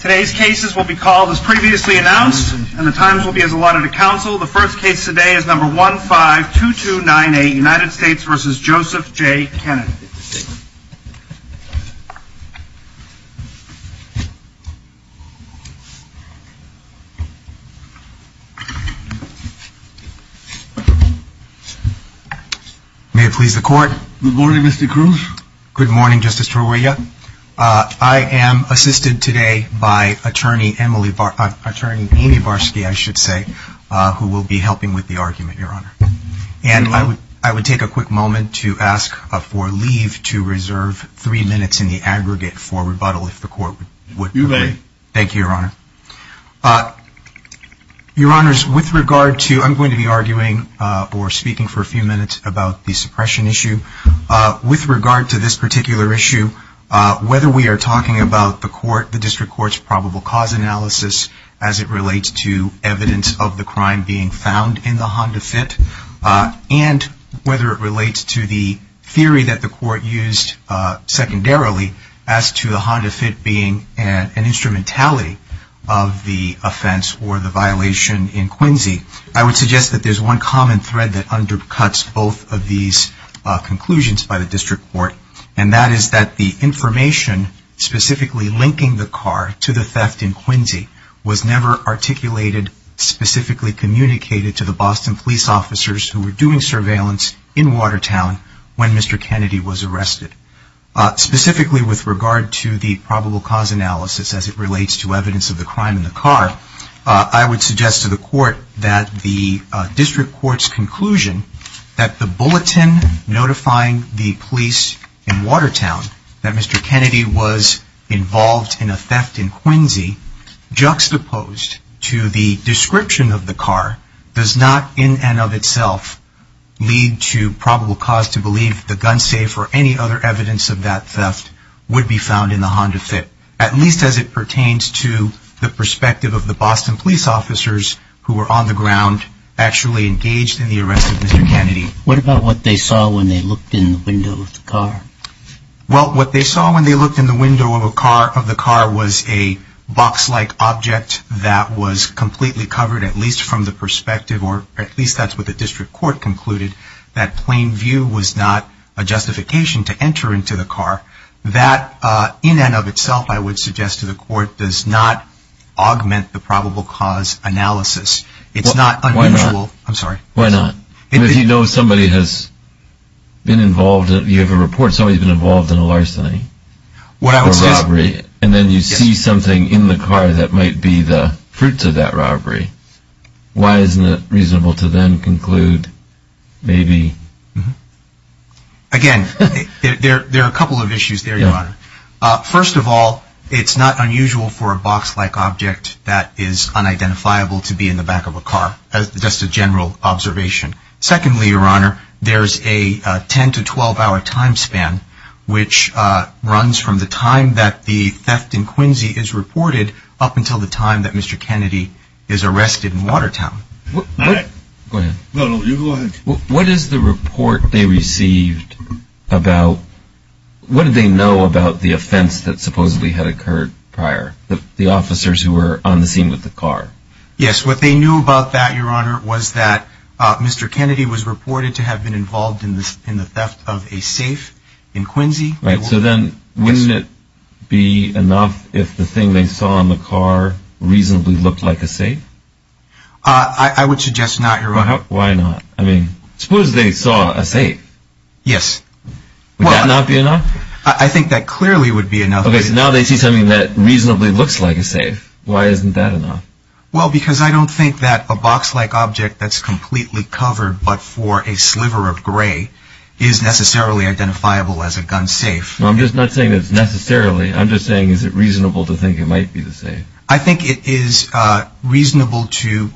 Today's cases will be called as previously announced and the times will be as allotted to counsel. The first case today is number 152298 United States v. Joseph J. Kennedy. May it please the court. Good morning Mr. Cruz. Good morning Justice Toria. I am assisted today by Attorney Amy Barsky who will be helping with the argument, Your Honor. And I would take a quick moment to ask for leave to reserve three minutes in the aggregate for rebuttal if the court would agree. You may. Thank you, Your Honor. Your Honors, with regard to, I'm going to be arguing or speaking for a few minutes about the suppression issue. With regard to this particular issue, whether we are talking about the court, the district court's probable cause analysis as it relates to evidence of the crime being found in the Honda Fit, and whether it relates to the theory that the court used secondarily as to the Honda Fit being an instrumentality of the offense or the violation in Quincy, I would suggest that there's one common thread that undercuts both of these conclusions by the district court, and that is that the information specifically linking the car to the theft in Quincy was never articulated, specifically communicated to the Boston police officers who were doing surveillance in Watertown when Mr. Kennedy was arrested. Specifically with regard to the probable cause analysis as it relates to evidence of the crime in the car, I would suggest to the court that the district court's conclusion that the bulletin notifying the police in Watertown that Mr. Kennedy was involved in a theft in Quincy juxtaposed to the description of the car does not in and of itself lead to probable cause to believe the gun safe or any other evidence of that theft would be found in the Honda Fit, at least as it pertains to the perspective of the Boston police officers who were on the ground actually engaged in the arrest of Mr. Kennedy. What about what they saw when they looked in the window of the car? Well, what they saw when they looked in the window of the car was a box-like object that was completely covered, at least from the perspective, or at least that's what the district court concluded, that plain view was not a justification to enter into the car. That, in and of itself, I would suggest to the court, does not augment the probable cause analysis. It's not unusual. Why not? I'm sorry. Why not? If you know somebody has been involved, you have a report, somebody's been involved in a larceny or robbery, and then you see something in the car that might be the fruits of that robbery, why isn't it reasonable to then conclude maybe... Again, there are a couple of issues there, Your Honor. First of all, it's not unusual for a box-like object that is unidentifiable to be in the back of a car. That's just a general observation. Secondly, Your Honor, there's a 10- to 12-hour time span, which runs from the time that the theft in Quincy is reported up until the time that Mr. Kennedy is arrested in Watertown. Go ahead. No, no, you go ahead. What is the report they received about... What did they know about the offense that supposedly had occurred prior, the officers who were on the scene with the car? Yes, what they knew about that, Your Honor, was that Mr. Kennedy was reported to have been involved in the theft of a safe in Quincy. Right, so then wouldn't it be enough if the thing they saw in the car reasonably looked like a safe? I would suggest not, Your Honor. Why not? I mean, suppose they saw a safe. Yes. Would that not be enough? I think that clearly would be enough. Okay, so now they see something that reasonably looks like a safe. Why isn't that enough? Well, because I don't think that a box-like object that's completely covered but for a sliver of gray is necessarily identifiable as a gun safe. No, I'm just not saying it's necessarily. I'm just saying is it reasonable to think it might be the safe? I think it is reasonable to...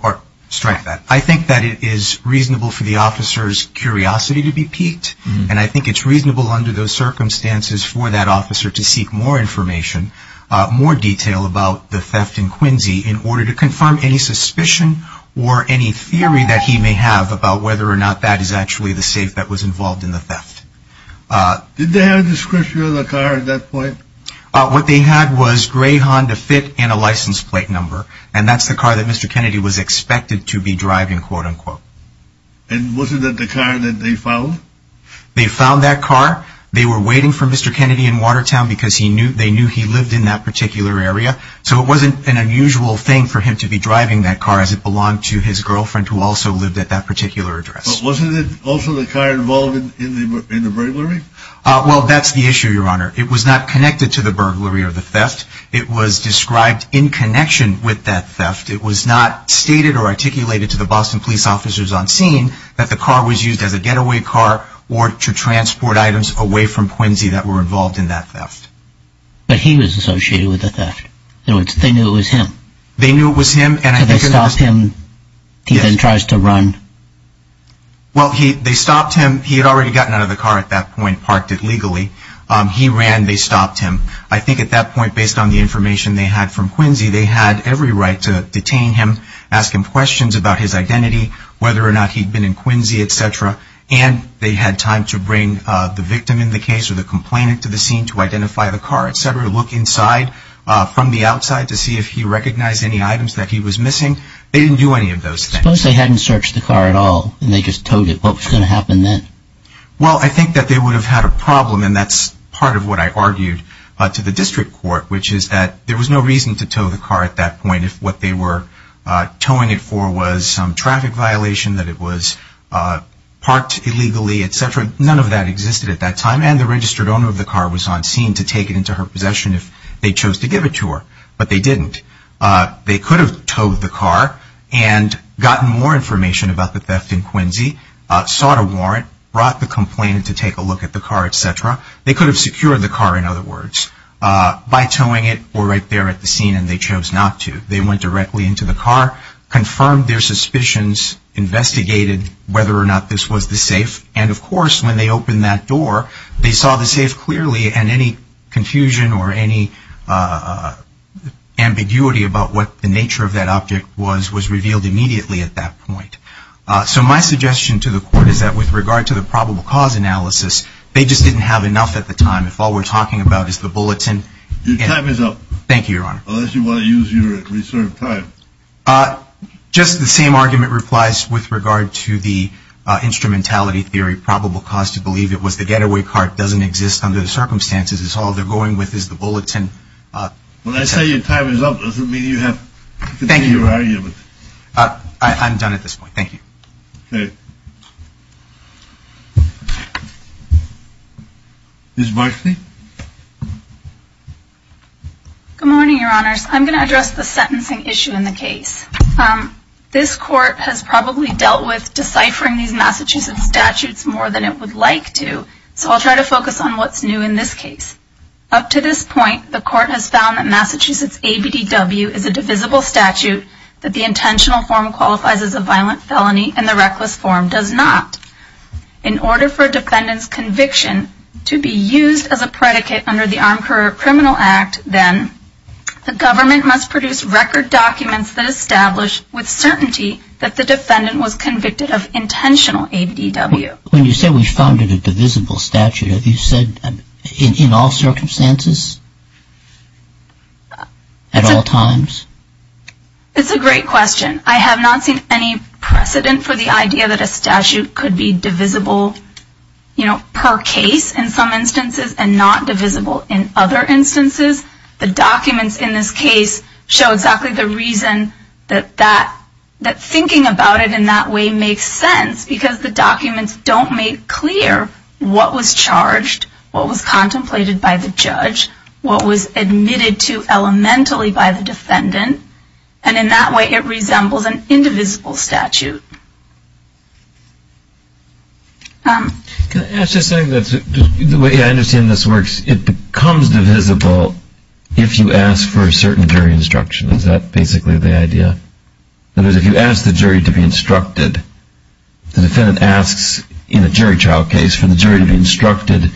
Strike that. I think that it is reasonable for the officer's curiosity to be piqued, and I think it's reasonable under those circumstances for that officer to seek more information, more detail about the theft in Quincy in order to confirm any suspicion or any theory that he may have about whether or not that is actually the safe that was involved in the theft. Did they have a description of the car at that point? What they had was grey Honda Fit and a license plate number, and that's the car that Mr. Kennedy was expected to be driving, quote-unquote. And wasn't that the car that they found? They found that car. They were waiting for Mr. Kennedy in Watertown because they knew he lived in that particular area, so it wasn't an unusual thing for him to be driving that car as it belonged to his girlfriend who also lived at that particular address. But wasn't it also the car involved in the burglary? Well, that's the issue, Your Honor. It was not connected to the burglary or the theft. It was described in connection with that theft. It was not stated or articulated to the Boston police officers on scene that the car was used as a getaway car or to transport items away from Quincy that were involved in that theft. But he was associated with the theft. They knew it was him. They knew it was him. So they stopped him. He then tries to run. Well, they stopped him. He had already gotten out of the car at that point, parked it legally. He ran. They stopped him. I think at that point, based on the information they had from Quincy, they had every right to detain him, ask him questions about his identity, whether or not he'd been in Quincy, et cetera, and they had time to bring the victim in the case or the complainant to the scene to identify the car, et cetera, look inside from the outside to see if he recognized any items that he was missing. They didn't do any of those things. Suppose they hadn't searched the car at all and they just told it. What was going to happen then? Well, I think that they would have had a problem, and that's part of what I argued to the district court, which is that there was no reason to tow the car at that point if what they were towing it for was some traffic violation, that it was parked illegally, et cetera. None of that existed at that time, and the registered owner of the car was on scene to take it into her possession if they chose to give it to her. But they didn't. They could have towed the car and gotten more information about the theft in Quincy, sought a warrant, brought the complainant to take a look at the car, et cetera. They could have secured the car, in other words, by towing it or right there at the scene, and they chose not to. They went directly into the car, confirmed their suspicions, investigated whether or not this was the safe, and, of course, when they opened that door, they saw the safe clearly, and any confusion or any ambiguity about what the nature of that object was was revealed immediately at that point. So my suggestion to the court is that, with regard to the probable cause analysis, they just didn't have enough at the time. If all we're talking about is the bulletin. Your time is up. Thank you, Your Honor. Unless you want to use your reserved time. Just the same argument replies with regard to the instrumentality theory. Probable cause to believe it was the getaway car doesn't exist under the circumstances. It's all they're going with is the bulletin. When I say your time is up, does it mean you have to continue your argument? I'm done at this point. Thank you. Okay. Ms. Barsley. Good morning, Your Honors. I'm going to address the sentencing issue in the case. This court has probably dealt with deciphering these Massachusetts statutes more than it would like to, so I'll try to focus on what's new in this case. Up to this point, the court has found that Massachusetts ABDW is a divisible statute, that the intentional form qualifies as a violent felony and the reckless form does not. In order for a defendant's conviction to be used as a predicate under the Armed Criminal Act, then the government must produce record documents that establish with certainty that the defendant was convicted of intentional ABDW. When you say we found it a divisible statute, have you said in all circumstances? At all times? It's a great question. I have not seen any precedent for the idea that a statute could be divisible, you know, per case in some instances and not divisible in other instances. The documents in this case show exactly the reason that thinking about it in that way makes sense because the documents don't make clear what was charged, what was contemplated by the judge, what was admitted to elementally by the defendant, and in that way it resembles an indivisible statute. The way I understand this works, it becomes divisible if you ask for a certain jury instruction. Is that basically the idea? In other words, if you ask the jury to be instructed, the defendant asks in a jury trial case for the jury to be instructed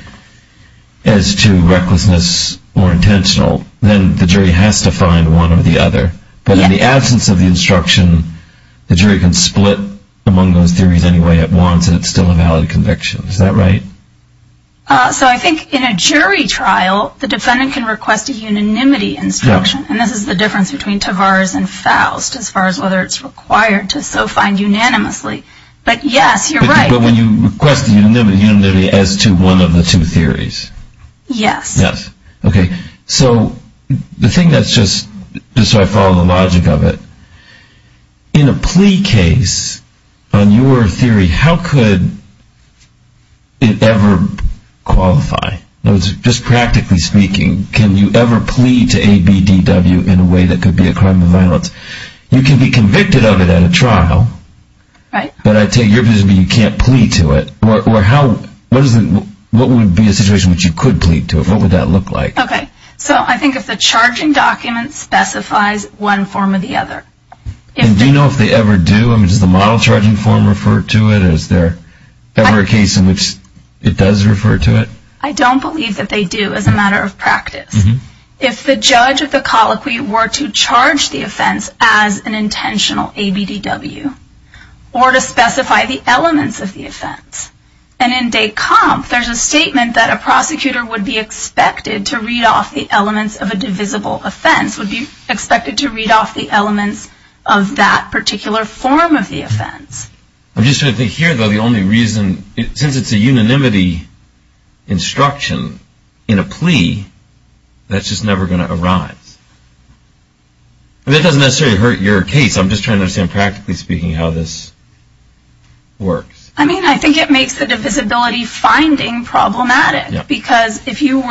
as to recklessness or intentional, then the jury has to find one or the other. But in the absence of the instruction, the jury can split among those theories any way it wants and it's still a valid conviction. Is that right? So I think in a jury trial, the defendant can request a unanimity instruction, and this is the difference between Tavares and Faust as far as whether it's required to so find unanimously. But yes, you're right. But when you request the unanimity as to one of the two theories? Yes. Yes. Okay. So the thing that's just, just so I follow the logic of it, in a plea case on your theory, how could it ever qualify? Just practically speaking, can you ever plea to ABDW in a way that could be a crime of violence? You can be convicted of it at a trial. Right. But I take your position that you can't plea to it. What would be a situation in which you could plea to it? What would that look like? Okay. So I think if the charging document specifies one form or the other. And do you know if they ever do? Does the model charging form refer to it? Is there ever a case in which it does refer to it? I don't believe that they do as a matter of practice. If the judge of the colloquy were to charge the offense as an intentional ABDW, or to specify the elements of the offense. And in de comp, there's a statement that a prosecutor would be expected to read off the elements of a divisible offense, would be expected to read off the elements of that particular form of the offense. I'm just trying to think here, though, the only reason, since it's a unanimity instruction in a plea, that's just never going to arise. That doesn't necessarily hurt your case. I'm just trying to understand practically speaking how this works. I mean, I think it makes the divisibility finding problematic. Because if you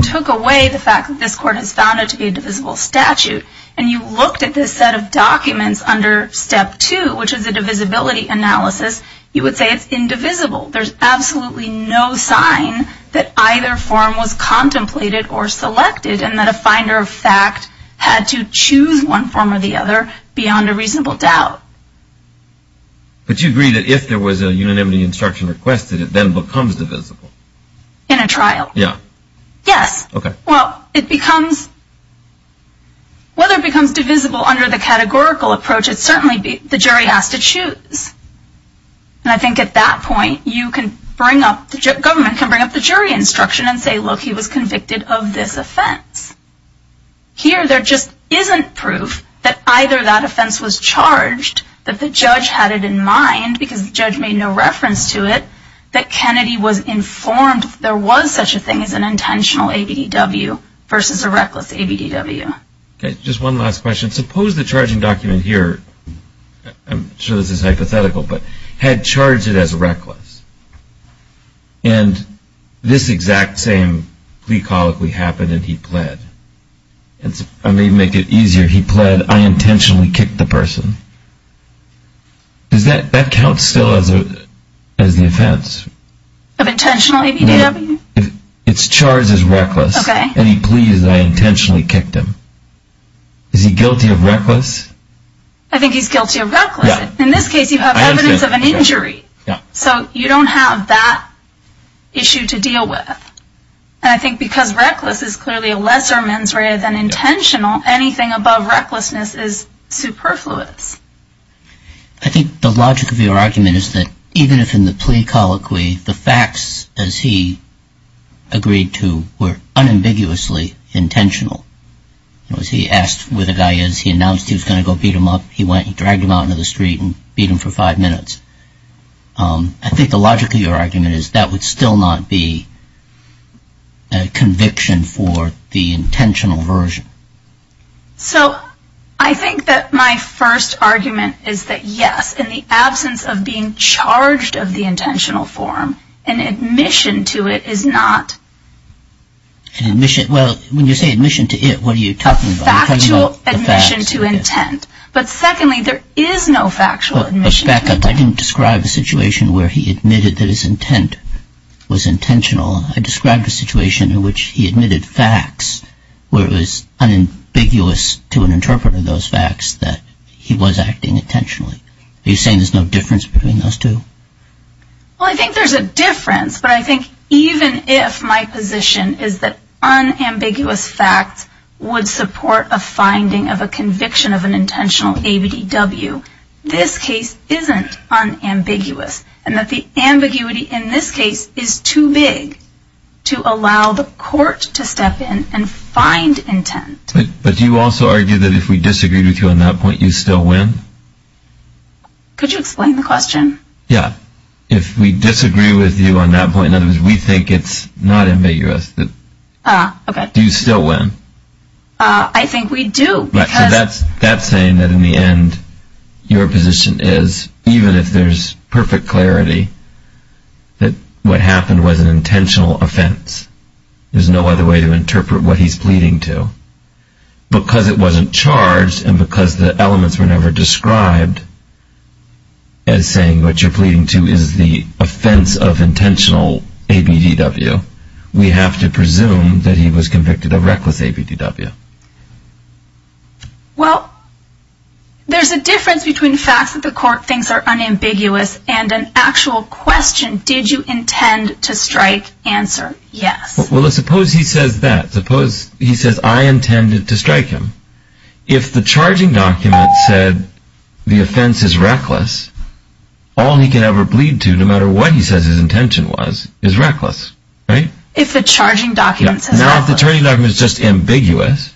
took away the fact that this court has found it to be a divisible statute, and you looked at this set of documents under step two, which is a divisibility analysis, you would say it's indivisible. There's absolutely no sign that either form was contemplated or selected, and that a finder of fact had to choose one form or the other beyond a reasonable doubt. But you agree that if there was a unanimity instruction requested, it then becomes divisible? In a trial. Yeah. Yes. Okay. Well, it becomes, whether it becomes divisible under the categorical approach, it certainly, the jury has to choose. And I think at that point, you can bring up, the government can bring up the jury instruction and say, look, he was convicted of this offense. Here there just isn't proof that either that offense was charged, that the judge had it in mind, because the judge made no reference to it, that Kennedy was informed there was such a thing as an intentional ABDW versus a reckless ABDW. Okay. Just one last question. Suppose the charging document here, I'm sure this is hypothetical, but had charged it as reckless, and this exact same plea colloquy happened and he pled. Let me make it easier. He pled, I intentionally kicked the person. Does that count still as the offense? Of intentional ABDW? It's charged as reckless. Okay. And he pleads that I intentionally kicked him. Is he guilty of reckless? I think he's guilty of reckless. Yeah. In this case, you have evidence of an injury. Yeah. So you don't have that issue to deal with. And I think because reckless is clearly a lesser mens rea than intentional, anything above recklessness is superfluous. I think the logic of your argument is that even if in the plea colloquy the facts, as he agreed to, were unambiguously intentional, in other words, he asked where the guy is, he announced he was going to go beat him up, he went and dragged him out into the street and beat him for five minutes. I think the logic of your argument is that would still not be a conviction for the intentional version. So I think that my first argument is that, yes, in the absence of being charged of the intentional form, an admission to it is not an admission. Well, when you say admission to it, what are you talking about? A factual admission to intent. But secondly, there is no factual admission to intent. I didn't describe a situation where he admitted that his intent was intentional. I described a situation in which he admitted facts where it was unambiguous to an interpreter, those facts, that he was acting intentionally. Are you saying there's no difference between those two? Well, I think there's a difference, but I think even if my position is that unambiguous facts would support a finding of a conviction of an intentional ABDW, this case isn't unambiguous and that the ambiguity in this case is too big to allow the court to step in and find intent. But do you also argue that if we disagreed with you on that point, you'd still win? Could you explain the question? Yeah. If we disagree with you on that point, in other words, we think it's not ambiguous, do you still win? I think we do. So that's saying that in the end, your position is, even if there's perfect clarity, that what happened was an intentional offense. There's no other way to interpret what he's pleading to. Because it wasn't charged and because the elements were never described as saying what you're pleading to is the offense of intentional ABDW, we have to presume that he was convicted of reckless ABDW. Well, there's a difference between facts that the court thinks are unambiguous and an actual question. Did you intend to strike? Answer, yes. Well, suppose he says that. Suppose he says, I intended to strike him. If the charging document said the offense is reckless, all he can ever plead to, no matter what he says his intention was, is reckless, right? If the charging document says reckless. Now, if the charging document is just ambiguous.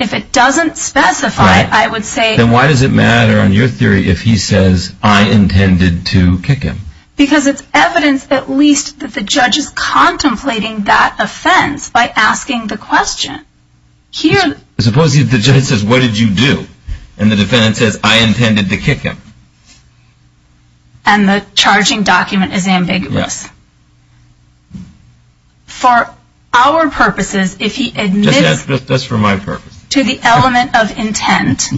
If it doesn't specify, I would say. Then why does it matter on your theory if he says, I intended to kick him? Because it's evidence at least that the judge is contemplating that offense by asking the question. Suppose the judge says, what did you do? And the defendant says, I intended to kick him. And the charging document is ambiguous. For our purposes, if he admits to the element of intent,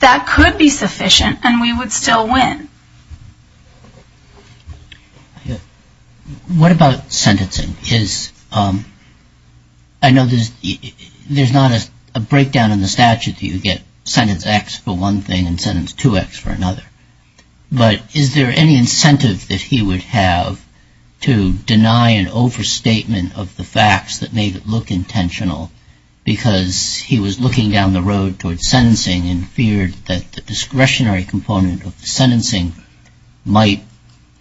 that could be sufficient and we would still win. What about sentencing? I know there's not a breakdown in the statute. You get sentence X for one thing and sentence 2X for another. But is there any incentive that he would have to deny an overstatement of the facts that made it look intentional because he was looking down the road towards sentencing and feared that the discretionary component of the sentencing might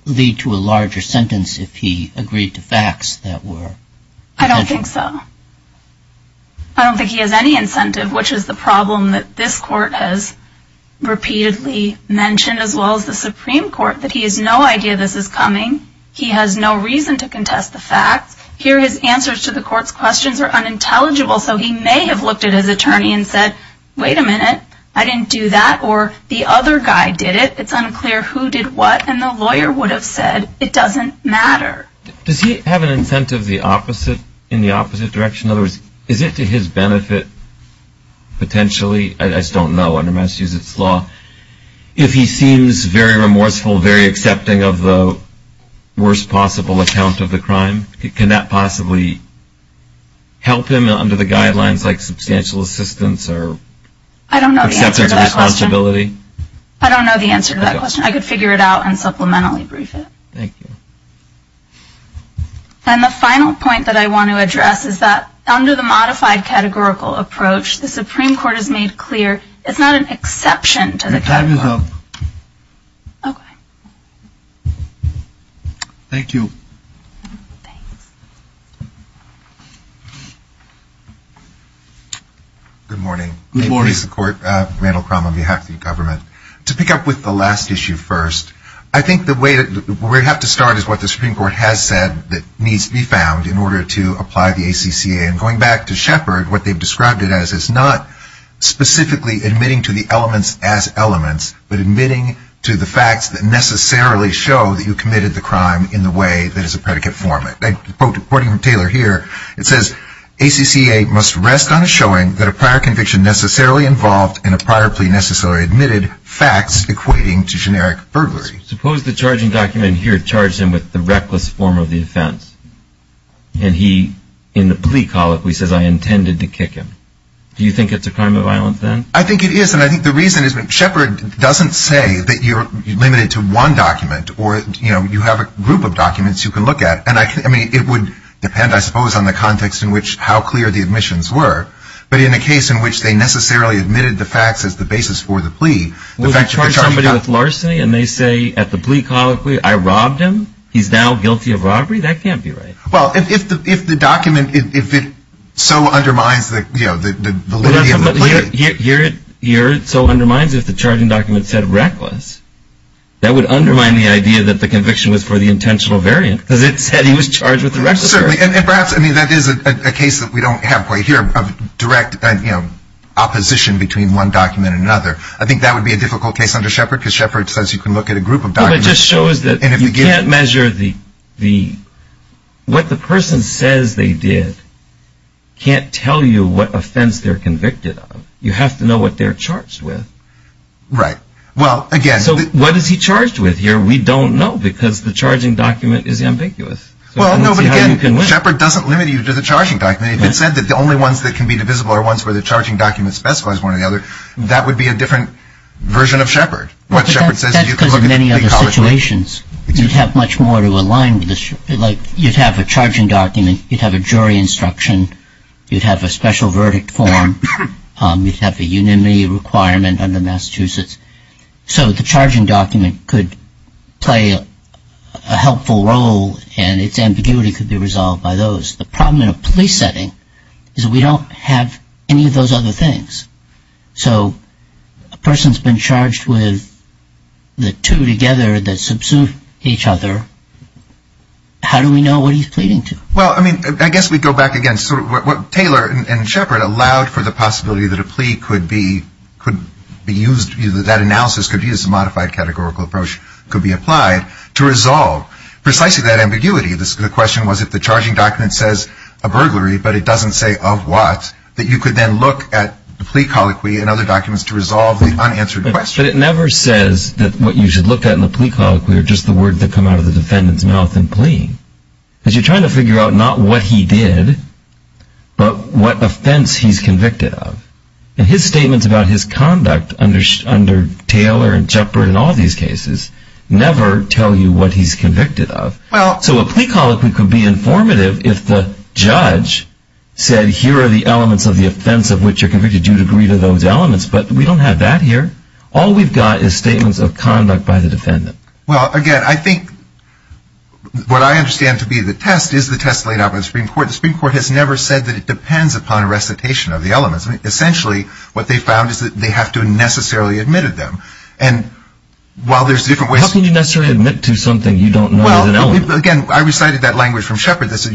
lead to a larger sentence if he agreed to facts that were intentional? I don't think so. I don't think he has any incentive, which is the problem that this court has repeatedly mentioned as well as the Supreme Court, that he has no idea this is coming. He has no reason to contest the facts. Here his answers to the court's questions are unintelligible. So he may have looked at his attorney and said, wait a minute, I didn't do that. Or the other guy did it. It's unclear who did what. And the lawyer would have said it doesn't matter. Does he have an incentive in the opposite direction? In other words, is it to his benefit potentially? I just don't know under Massachusetts law. If he seems very remorseful, very accepting of the worst possible account of the crime, can that possibly help him under the guidelines like substantial assistance or acceptance of responsibility? I don't know the answer to that question. I could figure it out and supplementary brief it. Thank you. And the final point that I want to address is that under the modified categorical approach, the Supreme Court has made clear it's not an exception to the categorical approach. Your time is up. Okay. Thank you. Thanks. Good morning. Good morning. My name is Randall Crum on behalf of the government. To pick up with the last issue first, I think the way we have to start is what the Supreme Court has said that needs to be found in order to apply the ACCA. And going back to Shepard, what they've described it as is not specifically admitting to the elements as elements, but admitting to the facts that necessarily show that you committed the crime in the way that is a predicate form. According to Taylor here, it says, ACCA must rest on a showing that a prior conviction necessarily involved in a prior plea necessarily admitted, facts equating to generic burglary. Suppose the charging document here charged him with the reckless form of the offense. And he, in the plea colloquy, says, I intended to kick him. Do you think it's a crime of violence then? I think it is. And I think the reason is that Shepard doesn't say that you're limited to one document or you have a group of documents you can look at. And it would depend, I suppose, on the context in which how clear the admissions were. But in a case in which they necessarily admitted the facts as the basis for the plea, Would they charge somebody with larceny and they say at the plea colloquy, I robbed him? He's now guilty of robbery? That can't be right. Well, if the document, if it so undermines the validity of the plea. Here it so undermines if the charging document said reckless. That would undermine the idea that the conviction was for the intentional variant. Because it said he was charged with reckless. Certainly. And perhaps that is a case that we don't have quite here of direct opposition between one document and another. I think that would be a difficult case under Shepard because Shepard says you can look at a group of documents. It just shows that you can't measure the, what the person says they did can't tell you what offense they're convicted of. You have to know what they're charged with. Right. Well, again. So what is he charged with here? We don't know because the charging document is ambiguous. Well, no, but again, Shepard doesn't limit you to the charging document. If it said that the only ones that can be divisible are ones where the charging document specifies one or the other, that would be a different version of Shepard. What Shepard says you can look at the plea colloquy. That's because in many other situations you'd have much more to align with the, like you'd have a charging document, you'd have a jury instruction, you'd have a special verdict form, you'd have a unanimity requirement under Massachusetts. So the charging document could play a helpful role and its ambiguity could be resolved by those. The problem in a police setting is we don't have any of those other things. So a person's been charged with the two together that subsumed each other. How do we know what he's pleading to? Well, I mean, I guess we'd go back again. Taylor and Shepard allowed for the possibility that a plea could be used, that analysis could be used, a modified categorical approach could be applied to resolve precisely that ambiguity. The question was if the charging document says a burglary but it doesn't say of what, that you could then look at the plea colloquy and other documents to resolve the unanswered question. But it never says that what you should look at in the plea colloquy are just the words that come out of the defendant's mouth in plea. Because you're trying to figure out not what he did but what offense he's convicted of. And his statements about his conduct under Taylor and Shepard and all these cases never tell you what he's convicted of. So a plea colloquy could be informative if the judge said, here are the elements of the offense of which you're convicted. You'd agree to those elements, but we don't have that here. All we've got is statements of conduct by the defendant. Well, again, I think what I understand to be the test is the test laid out by the Supreme Court. The Supreme Court has never said that it depends upon a recitation of the elements. Essentially, what they found is that they have to have necessarily admitted them. And while there's different ways... How can you necessarily admit to something you don't know is an element? Well, again, I recited that language from Shepard, So it's to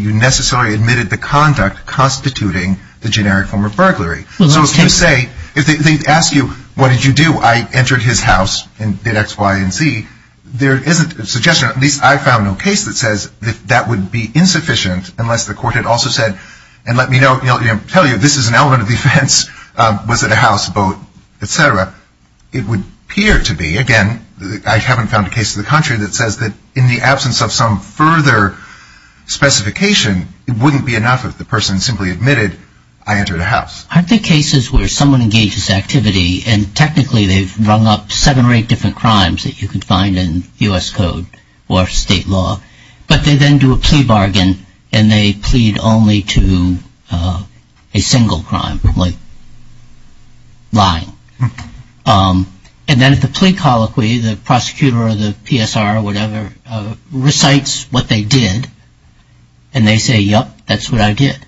say, if they ask you, what did you do? I entered his house and did X, Y, and Z. There isn't a suggestion, at least I found no case that says that that would be insufficient unless the court had also said, and let me tell you, this is an element of the offense. Was it a house, boat, et cetera? It would appear to be. Again, I haven't found a case in the country that says that in the absence of some further specification, Aren't there cases where someone engages activity, and technically they've rung up seven or eight different crimes that you can find in U.S. code or state law, but they then do a plea bargain, and they plead only to a single crime, like lying. And then if the plea colloquy, the prosecutor or the PSR or whatever recites what they did, and they say, yep, that's what I did,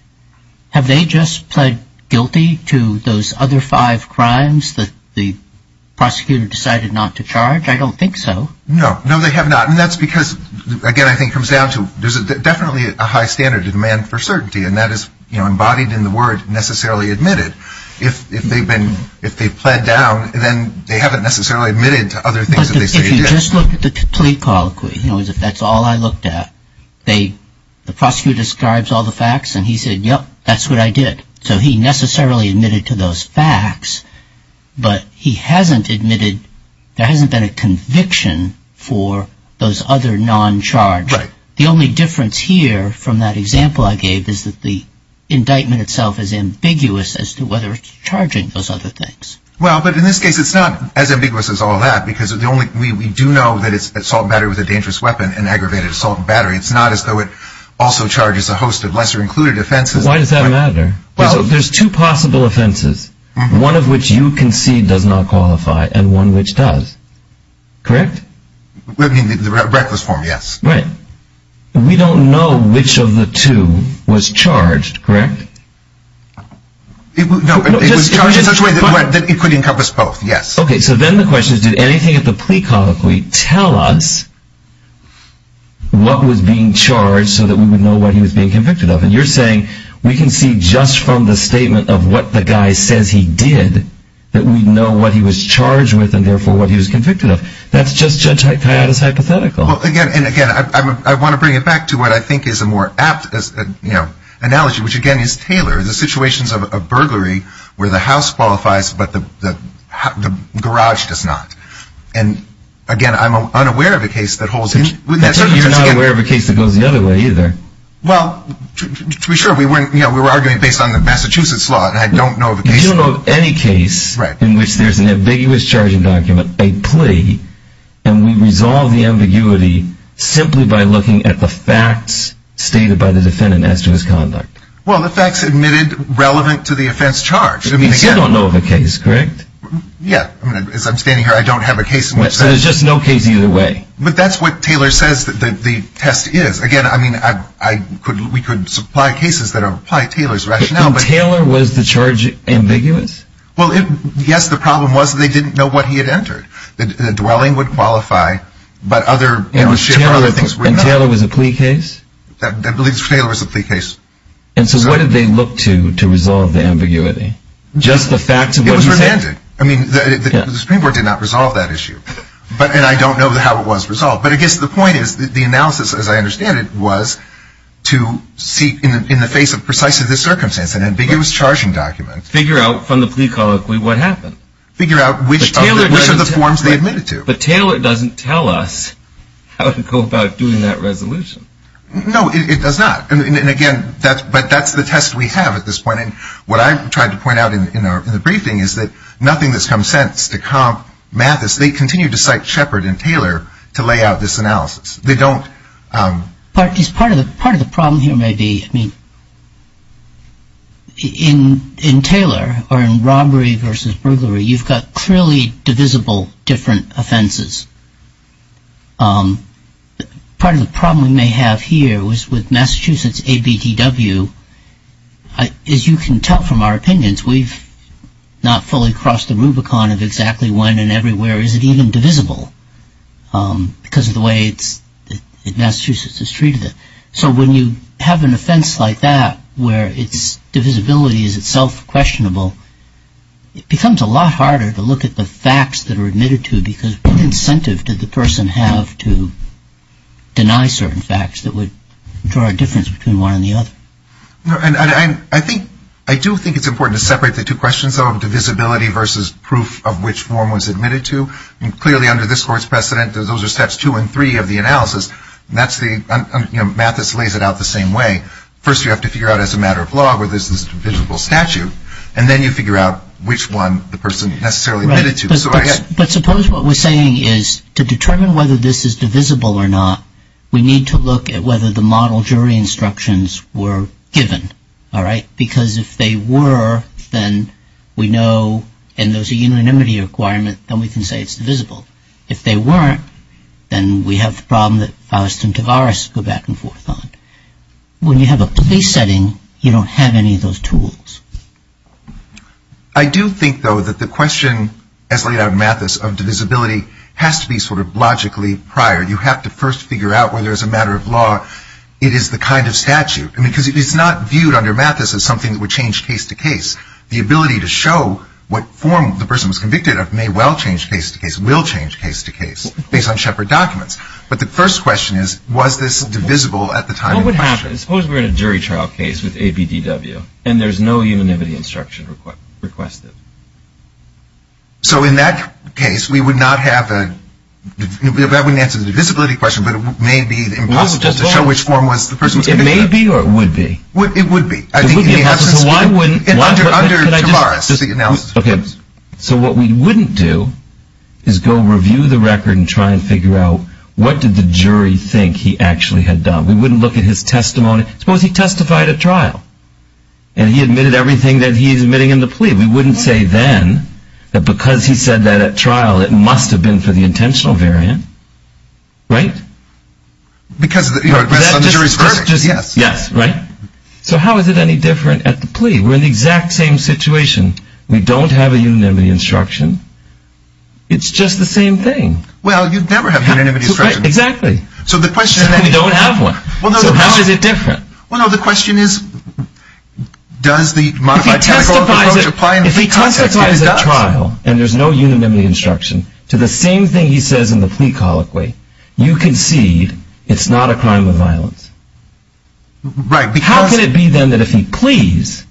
have they just pled guilty to those other five crimes that the prosecutor decided not to charge? I don't think so. No. No, they have not. And that's because, again, I think it comes down to there's definitely a high standard of demand for certainty, and that is embodied in the word necessarily admitted. If they've pled down, then they haven't necessarily admitted to other things that they say they did. But if you just look at the plea colloquy, that's all I looked at, the prosecutor describes all the facts, and he said, yep, that's what I did. So he necessarily admitted to those facts, but he hasn't admitted, there hasn't been a conviction for those other non-charged. The only difference here from that example I gave is that the indictment itself is ambiguous as to whether it's charging those other things. Well, but in this case, it's not as ambiguous as all that, because we do know that it's assault and battery with a dangerous weapon and aggravated assault and battery. It's not as though it also charges a host of lesser-included offenses. Why does that matter? There's two possible offenses, one of which you concede does not qualify and one which does. Correct? Reckless form, yes. Right. We don't know which of the two was charged, correct? It was charged in such a way that it could encompass both, yes. Okay, so then the question is, did anything at the plea colloquy tell us what was being charged so that we would know what he was being convicted of? And you're saying we can see just from the statement of what the guy says he did that we know what he was charged with and, therefore, what he was convicted of. That's just Judge Hayato's hypothetical. Well, again, and again, I want to bring it back to what I think is a more apt analogy, which, again, is tailored. The situations of a burglary where the house qualifies but the garage does not. And, again, I'm unaware of a case that holds. You're not aware of a case that goes the other way either. Well, to be sure, we were arguing based on the Massachusetts law, and I don't know of a case. You don't know of any case in which there's an ambiguous charging document, a plea, and we resolve the ambiguity simply by looking at the facts stated by the defendant as to his conduct. Well, the facts admitted relevant to the offense charged. You still don't know of a case, correct? Yeah. As I'm standing here, I don't have a case in which that is. So there's just no case either way. But that's what Taylor says the test is. Again, I mean, we could supply cases that apply Taylor's rationale. But Taylor was the charge ambiguous? Well, yes, the problem was they didn't know what he had entered. The dwelling would qualify, but other things were not. And Taylor was a plea case? I believe Taylor was a plea case. And so what did they look to to resolve the ambiguity? Just the facts of what he said? It was redundant. I mean, the Supreme Court did not resolve that issue, and I don't know how it was resolved. But I guess the point is the analysis, as I understand it, was to seek in the face of precisely this circumstance, an ambiguous charging document. Figure out from the plea colloquy what happened. Figure out which of the forms they admitted to. But Taylor doesn't tell us how to go about doing that resolution. No, it does not. And, again, but that's the test we have at this point. And what I tried to point out in the briefing is that nothing that's come since to comp Mathis, they continue to cite Shepard and Taylor to lay out this analysis. They don't. Part of the problem here may be, I mean, in Taylor or in robbery versus burglary, you've got clearly divisible different offenses. Part of the problem we may have here was with Massachusetts ABDW. As you can tell from our opinions, we've not fully crossed the Rubicon of exactly when and everywhere is it even divisible because of the way Massachusetts has treated it. So when you have an offense like that where its divisibility is itself questionable, it becomes a lot harder to look at the facts that are admitted to because what incentive did the person have to deny certain facts that would draw a difference between one and the other? I do think it's important to separate the two questions, though, of divisibility versus proof of which form was admitted to. Clearly, under this Court's precedent, those are steps two and three of the analysis. Mathis lays it out the same way. First, you have to figure out as a matter of law whether this is a divisible statute, and then you figure out which one the person necessarily admitted to. But suppose what we're saying is to determine whether this is divisible or not, we need to look at whether the model jury instructions were given, all right? Because if they were, then we know, and there's a unanimity requirement, then we can say it's divisible. If they weren't, then we have the problem that Faust and Tavaris go back and forth on it. When you have a place setting, you don't have any of those tools. I do think, though, that the question as laid out in Mathis of divisibility has to be sort of logically prior. You have to first figure out whether as a matter of law it is the kind of statute. I mean, because it's not viewed under Mathis as something that would change case to case. The ability to show what form the person was convicted of may well change case to case, will change case to case, based on Shepard documents. But the first question is, was this divisible at the time of question? What would happen? Suppose we're in a jury trial case with ABDW, and there's no unanimity instruction requested. So in that case, we would not have a – that wouldn't answer the divisibility question, but it may be impossible to show which form was the person was convicted of. It may be or it would be. It would be. So why wouldn't – Under Tavares. So what we wouldn't do is go review the record and try and figure out what did the jury think he actually had done. We wouldn't look at his testimony. Suppose he testified at trial, and he admitted everything that he's admitting in the plea. We wouldn't say then that because he said that at trial, it must have been for the intentional variant. Right? Because the jury's verdict, yes. Yes, right? So how is it any different at the plea? We're in the exact same situation. We don't have a unanimity instruction. It's just the same thing. Well, you'd never have a unanimity instruction. Exactly. So the question – We don't have one. So how is it different? Well, no, the question is, does the modified – If he testifies at trial, and there's no unanimity instruction, to the same thing he says in the plea colloquy, you concede it's not a crime of violence. Right, because – How can it be then that if he pleas,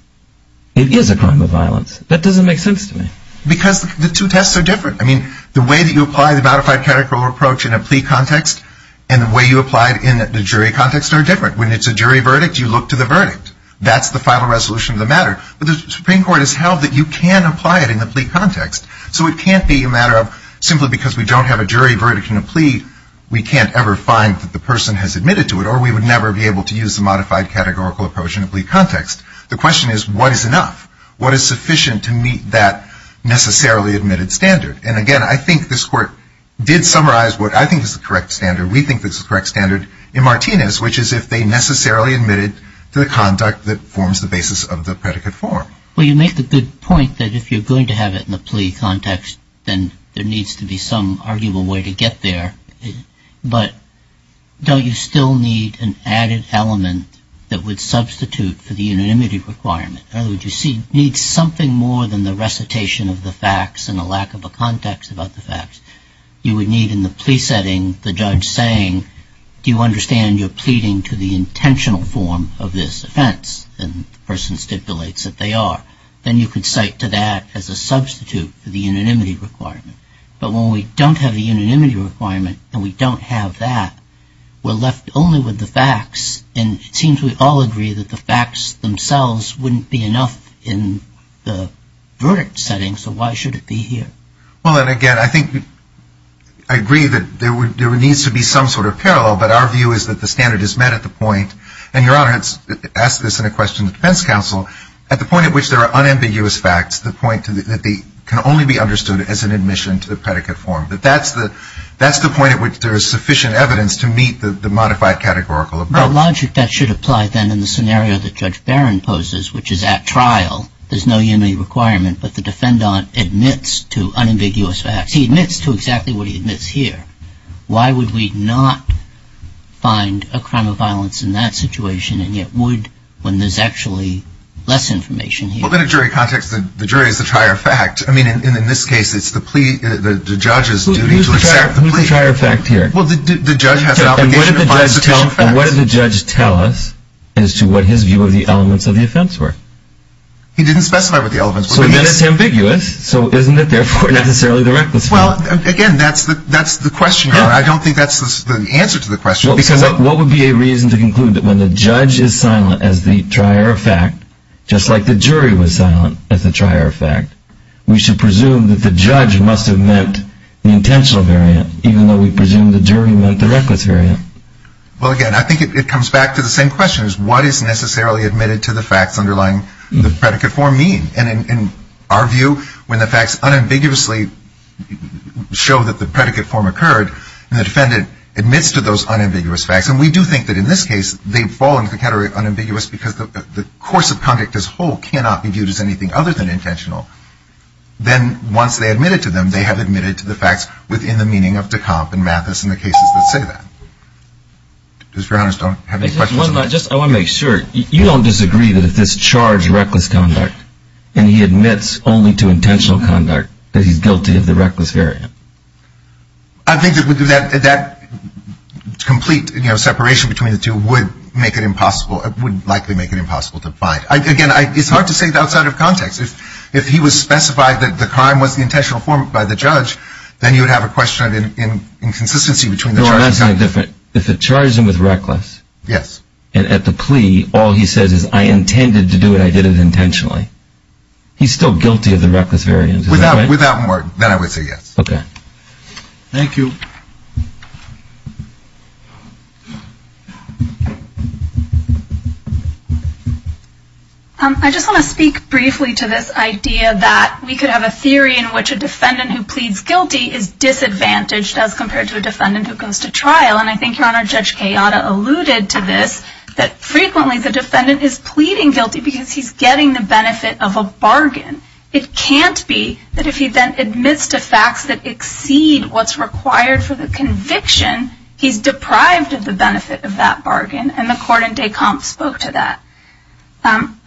it is a crime of violence? That doesn't make sense to me. Because the two tests are different. I mean, the way that you apply the modified categorical approach in a plea context and the way you apply it in the jury context are different. When it's a jury verdict, you look to the verdict. That's the final resolution of the matter. But the Supreme Court has held that you can apply it in the plea context. So it can't be a matter of simply because we don't have a jury verdict in a plea, we can't ever find that the person has admitted to it, or we would never be able to use the modified categorical approach in a plea context. The question is, what is enough? What is sufficient to meet that necessarily admitted standard? And, again, I think this Court did summarize what I think is the correct standard. We think this is the correct standard in Martinez, which is if they necessarily admitted to the conduct that forms the basis of the predicate form. Well, you make the good point that if you're going to have it in the plea context, then there needs to be some arguable way to get there. But don't you still need an added element that would substitute for the unanimity requirement? In other words, you need something more than the recitation of the facts and a lack of a context about the facts. You would need in the plea setting the judge saying, do you understand you're pleading to the intentional form of this offense? And the person stipulates that they are. Then you could cite to that as a substitute for the unanimity requirement. But when we don't have the unanimity requirement and we don't have that, we're left only with the facts. And it seems we all agree that the facts themselves wouldn't be enough in the verdict setting, so why should it be here? Well, and, again, I think I agree that there needs to be some sort of parallel, but our view is that the standard is met at the point, and Your Honor has asked this in a question to defense counsel, at the point at which there are unambiguous facts, the point that they can only be understood as an admission to the predicate form. But that's the point at which there is sufficient evidence to meet the modified categorical approach. The logic that should apply then in the scenario that Judge Barron poses, which is at trial, there's no unanimity requirement, but the defendant admits to unambiguous facts. He admits to exactly what he admits here. Why would we not find a crime of violence in that situation, and yet would when there's actually less information here? Well, in a jury context, the jury is the trier of fact. I mean, in this case, it's the plea, the judge's duty to accept the plea. Who's the trier of fact here? Well, the judge has an obligation to find sufficient facts. And what did the judge tell us as to what his view of the elements of the offense were? He didn't specify what the elements were. Well, again, that's the question. I don't think that's the answer to the question. Because what would be a reason to conclude that when the judge is silent as the trier of fact, just like the jury was silent as the trier of fact, we should presume that the judge must have meant the intentional variant, even though we presume the jury meant the reckless variant? Well, again, I think it comes back to the same question, is what is necessarily admitted to the facts underlying the predicate form mean? And in our view, when the facts unambiguously show that the predicate form occurred and the defendant admits to those unambiguous facts, and we do think that in this case they fall into the category of unambiguous because the course of conduct as a whole cannot be viewed as anything other than intentional, then once they admit it to them, they have admitted to the facts within the meaning of de Camp and Mathis and the cases that say that. I want to make sure. You don't disagree that if this charged reckless conduct and he admits only to intentional conduct that he's guilty of the reckless variant? I think that that complete separation between the two would make it impossible, would likely make it impossible to find. Again, it's hard to say that outside of context. If he was specified that the crime was the intentional form by the judge, then you would have a question of inconsistency between the charges. If it charged him with reckless and at the plea all he says is, I intended to do it, I did it intentionally, he's still guilty of the reckless variant. Without more, then I would say yes. Okay. Thank you. I just want to speak briefly to this idea that we could have a theory in which a defendant who pleads guilty is disadvantaged as compared to a defendant who comes to trial. And I think your Honor, Judge Kayada alluded to this, that frequently the defendant is pleading guilty because he's getting the benefit of a bargain. It can't be that if he then admits to facts that exceed what's required for the conviction, he's deprived of the benefit of that bargain. And the court in de Camp spoke to that.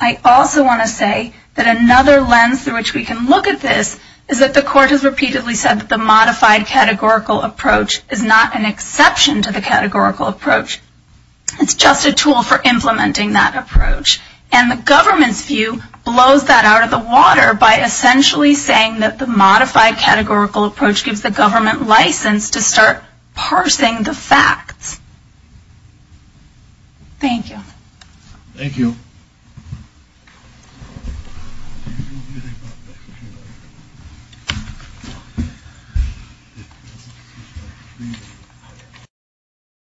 I also want to say that another lens through which we can look at this is that the court has repeatedly said that the modified categorical approach is not an exception to the categorical approach. It's just a tool for implementing that approach. And the government's view blows that out of the water by essentially saying that the modified categorical approach gives the government license to start parsing the facts. Thank you. Thank you.